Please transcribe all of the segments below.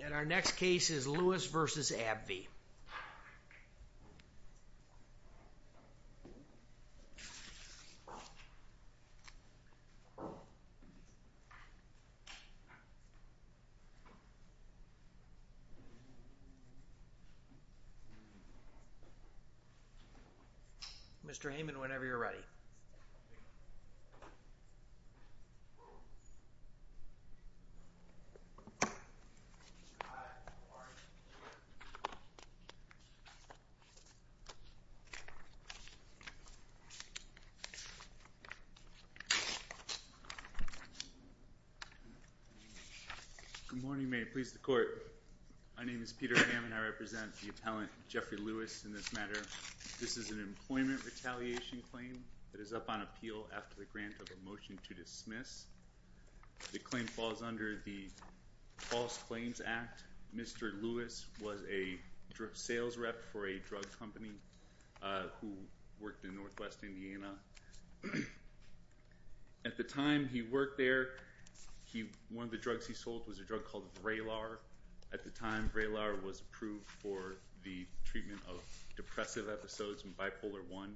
And our next case is Lewis v. AbbVie. Mr. Heyman, whenever you're ready. Good morning. Good morning. May it please the Court. My name is Peter Heyman. I represent the appellant, Jeffrey Lewis, in this matter. This is an employment retaliation claim that is up on appeal after the grant of a motion to dismiss. The claim falls under the False Claims Act. Mr. Lewis was a sales rep for a drug company who worked in northwest Indiana. At the time he worked there, one of the drugs he sold was a drug called Vraylar. At the time, Vraylar was approved for the treatment of depressive episodes and bipolar I.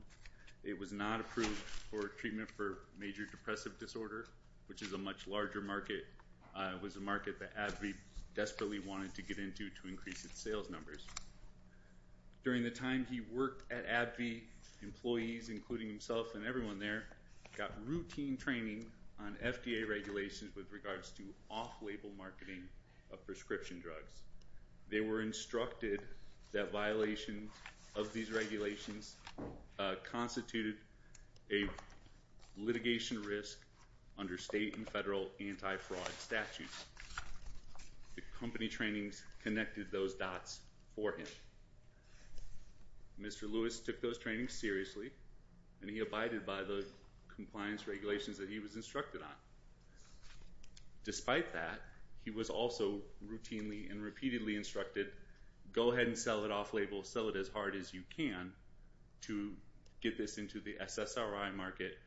It was not approved for treatment for major depressive disorder, which is a much larger market. It was a market that AbbVie desperately wanted to get into to increase its sales numbers. During the time he worked at AbbVie, employees, including himself and everyone there, got routine training on FDA regulations with regards to off-label marketing of prescription drugs. They were instructed that violations of these regulations constituted a litigation risk under state and federal anti-fraud statutes. The company trainings connected those dots for him. Mr. Lewis took those trainings seriously, and he abided by the compliance regulations that he was instructed on. Despite that, he was also routinely and repeatedly instructed, go ahead and sell it off-label, sell it as hard as you can to get this into the SSRI market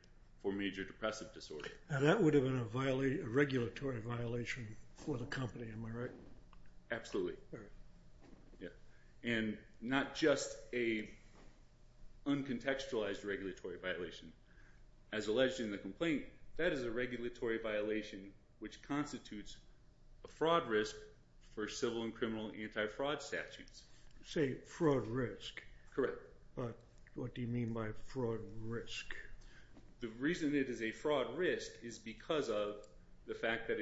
for major depressive disorder. Now that would have been a regulatory violation for the company, am I right? Absolutely. And not just an uncontextualized regulatory violation. As alleged in the complaint, that is a regulatory violation which constitutes a fraud risk for civil and criminal anti-fraud statutes. You say fraud risk. Correct. But what do you mean by fraud risk? The reason it is a fraud risk is because of the fact that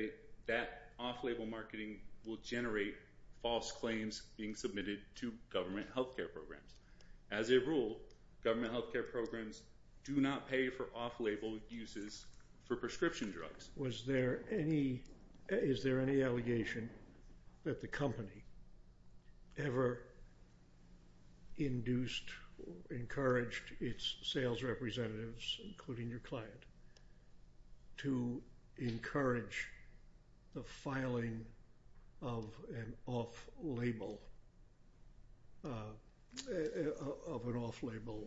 that off-label marketing will generate false claims being submitted to government health care programs. As a rule, government health care programs do not pay for off-label uses for prescription drugs. Was there any, is there any allegation that the company ever induced, encouraged its sales representatives, including your client, to encourage the filing of an off-label, of an off-label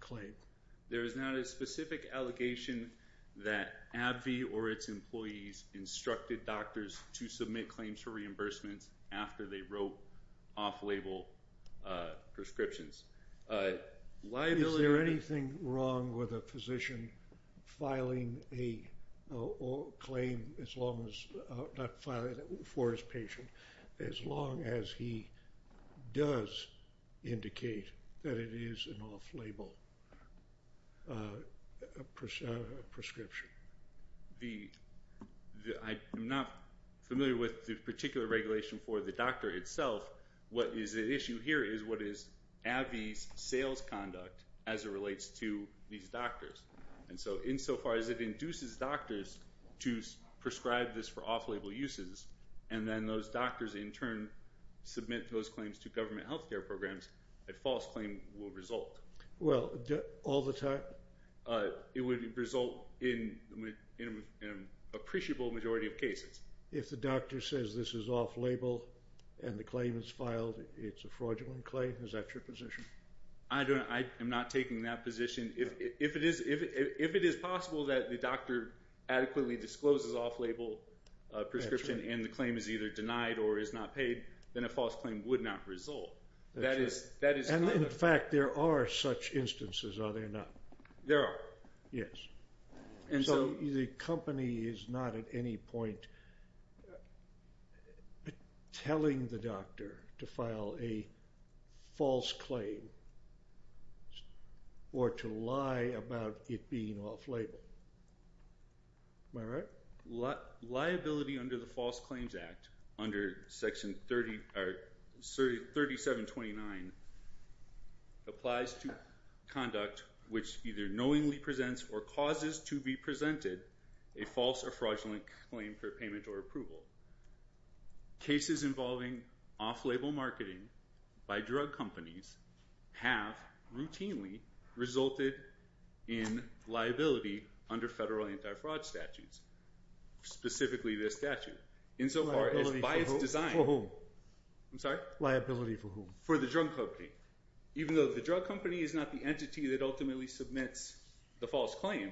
claim? There is not a specific allegation that AbbVie or its employees instructed doctors to submit claims for reimbursements after they wrote off-label prescriptions. Is there anything wrong with a physician filing a claim as long as, not filing it for his patient, as long as he does indicate that it is an off-label prescription? I am not familiar with the particular regulation for the doctor itself. What is at issue here is what is AbbVie's sales conduct as it relates to these doctors. And so insofar as it induces doctors to prescribe this for off-label uses, and then those doctors in turn submit those claims to government health care programs, a false claim will result. Well, all the time? It would result in an appreciable majority of cases. If the doctor says this is off-label and the claim is filed, it's a fraudulent claim, is that your position? I am not taking that position. If it is possible that the doctor adequately discloses off-label prescription and the claim is either denied or is not paid, then a false claim would not result. And in fact, there are such instances, are there not? There are. Yes. And so the company is not at any point telling the doctor to file a false claim or to lie about it being off-label. Am I right? Liability under the False Claims Act under Section 3729 applies to conduct which either knowingly presents or causes to be presented a false or fraudulent claim for payment or approval. Cases involving off-label marketing by drug companies have routinely resulted in liability under federal anti-fraud statutes, specifically this statute. Liability for whom? I'm sorry? Liability for whom? For the drug company. Even though the drug company is not the entity that ultimately submits the false claim,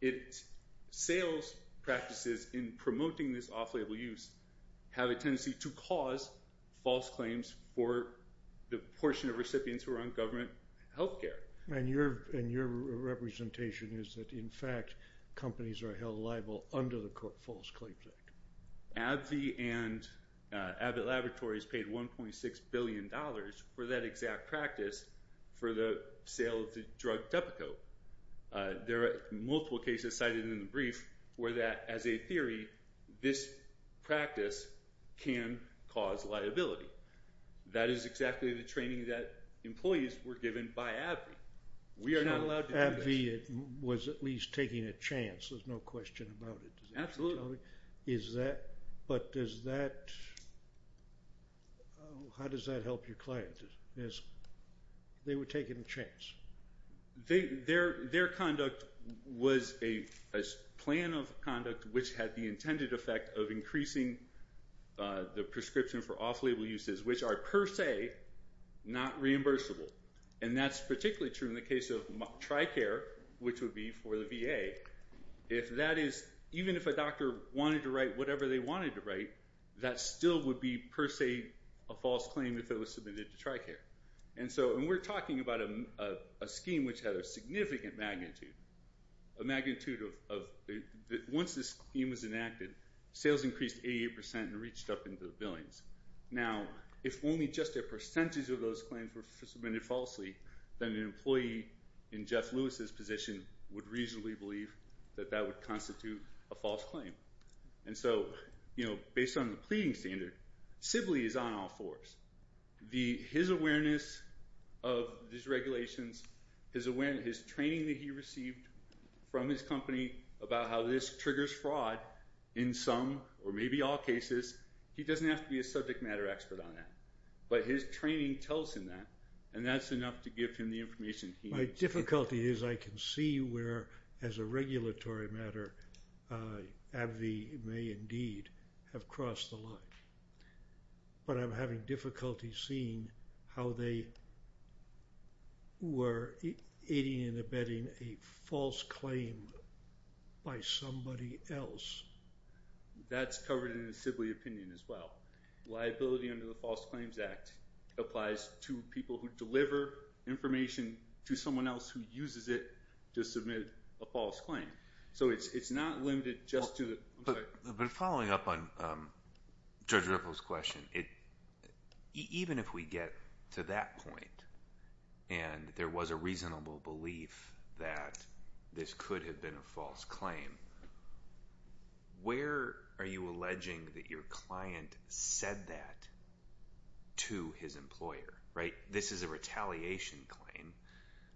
its sales practices in promoting this off-label use have a tendency to cause false claims for the portion of recipients who are on government health care. And your representation is that, in fact, companies are held liable under the False Claims Act. AbbVie and Abbott Laboratories paid $1.6 billion for that exact practice for the sale of the drug Depakote. There are multiple cases cited in the brief where that, as a theory, this practice can cause liability. That is exactly the training that employees were given by AbbVie. We are not allowed to do this. AbbVie was at least taking a chance. There's no question about it. Absolutely. But how does that help your clients? They were taking a chance. Their conduct was a plan of conduct which had the intended effect of increasing the prescription for off-label uses, which are per se not reimbursable. And that's particularly true in the case of Tricare, which would be for the VA. Even if a doctor wanted to write whatever they wanted to write, that still would be, per se, a false claim if it was submitted to Tricare. And we're talking about a scheme which had a significant magnitude. Once this scheme was enacted, sales increased 88 percent and reached up into the billions. Now, if only just a percentage of those claims were submitted falsely, then an employee in Jeff Lewis's position would reasonably believe that that would constitute a false claim. And so, based on the pleading standard, Sibley is on all fours. His awareness of these regulations, his training that he received from his company about how this triggers fraud in some or maybe all cases, he doesn't have to be a subject matter expert on that. But his training tells him that, and that's enough to give him the information he needs. My difficulty is I can see where, as a regulatory matter, AbbVie may indeed have crossed the line. But I'm having difficulty seeing how they were aiding and abetting a false claim by somebody else. That's covered in the Sibley opinion as well. Liability under the False Claims Act applies to people who deliver information to someone else who uses it to submit a false claim. So it's not limited just to the- But following up on Judge Ripple's question, even if we get to that point and there was a reasonable belief that this could have been a false claim, where are you alleging that your client said that to his employer, right? This is a retaliation claim.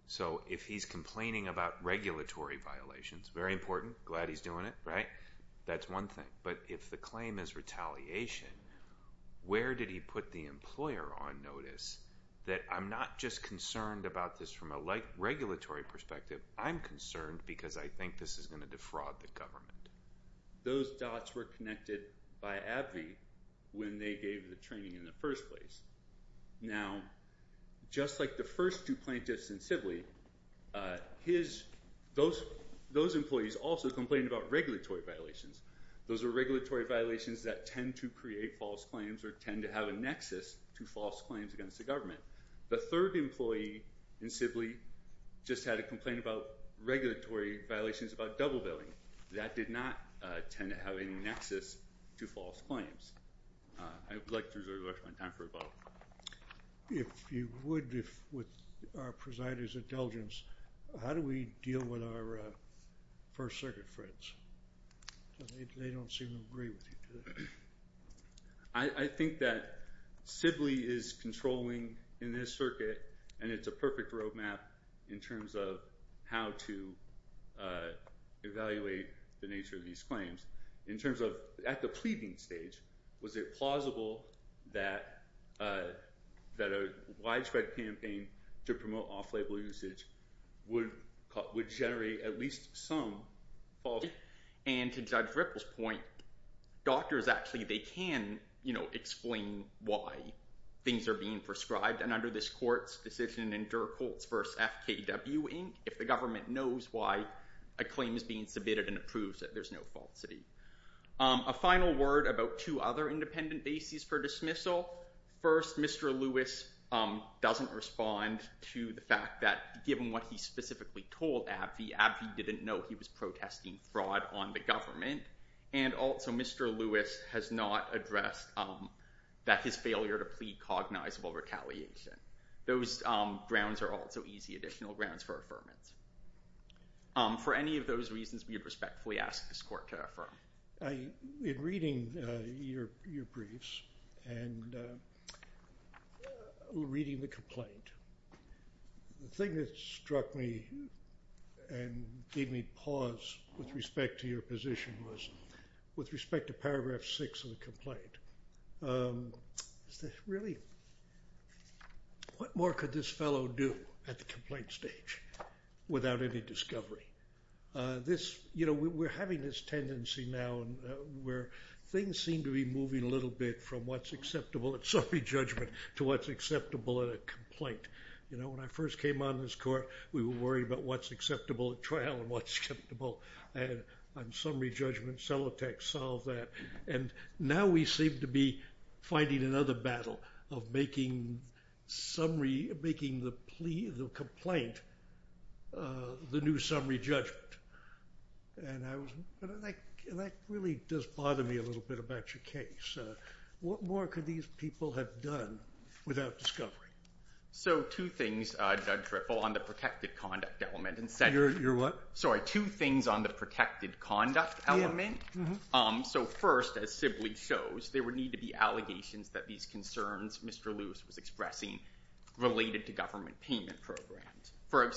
So if he's complaining about regulatory violations, very important, glad he's doing it, right? That's one thing. But if the claim is retaliation, where did he put the employer on notice that, I'm not just concerned about this from a regulatory perspective. I'm concerned because I think this is going to defraud the government. Those dots were connected by AbbVie when they gave the training in the first place. Now, just like the first two plaintiffs in Sibley, those employees also complained about regulatory violations. Those are regulatory violations that tend to create false claims or tend to have a nexus to false claims against the government. The third employee in Sibley just had a complaint about regulatory violations about double billing. That did not tend to have any nexus to false claims. I would like to reserve the rest of my time for a vote. If you would, with our presider's indulgence, how do we deal with our First Circuit friends? They don't seem to agree with you. I think that Sibley is controlling in this circuit, and it's a perfect road map in terms of how to evaluate the nature of these claims. At the pleading stage, was it plausible that a widespread campaign to promote off-label usage would generate at least some false claims? To Judge Ripple's point, doctors actually can explain why things are being prescribed. Under this court's decision in Dirkholtz v. FKW Inc., if the government knows why a claim is being submitted and approves it, there's no falsity. A final word about two other independent bases for dismissal. First, Mr. Lewis doesn't respond to the fact that, given what he specifically told AbbVie, AbbVie didn't know he was protesting fraud on the government. And also, Mr. Lewis has not addressed his failure to plead cognizable retaliation. Those grounds are also easy additional grounds for affirmance. For any of those reasons, we would respectfully ask this court to affirm. In reading your briefs and reading the complaint, the thing that struck me and gave me pause with respect to your position was, with respect to paragraph 6 of the complaint, is that really, what more could this fellow do at the complaint stage without any discovery? We're having this tendency now where things seem to be moving a little bit from what's acceptable at summary judgment to what's acceptable at a complaint. When I first came on this court, we were worried about what's acceptable at trial and what's acceptable on summary judgment. And now we seem to be fighting another battle of making the complaint the new summary judgment. And that really does bother me a little bit about your case. What more could these people have done without discovery? So two things, Judge Ripple, on the protected conduct element. You're what? Sorry, two things on the protected conduct element. So first, as simply shows, there would need to be allegations that these concerns Mr. Lewis was expressing related to government payment programs.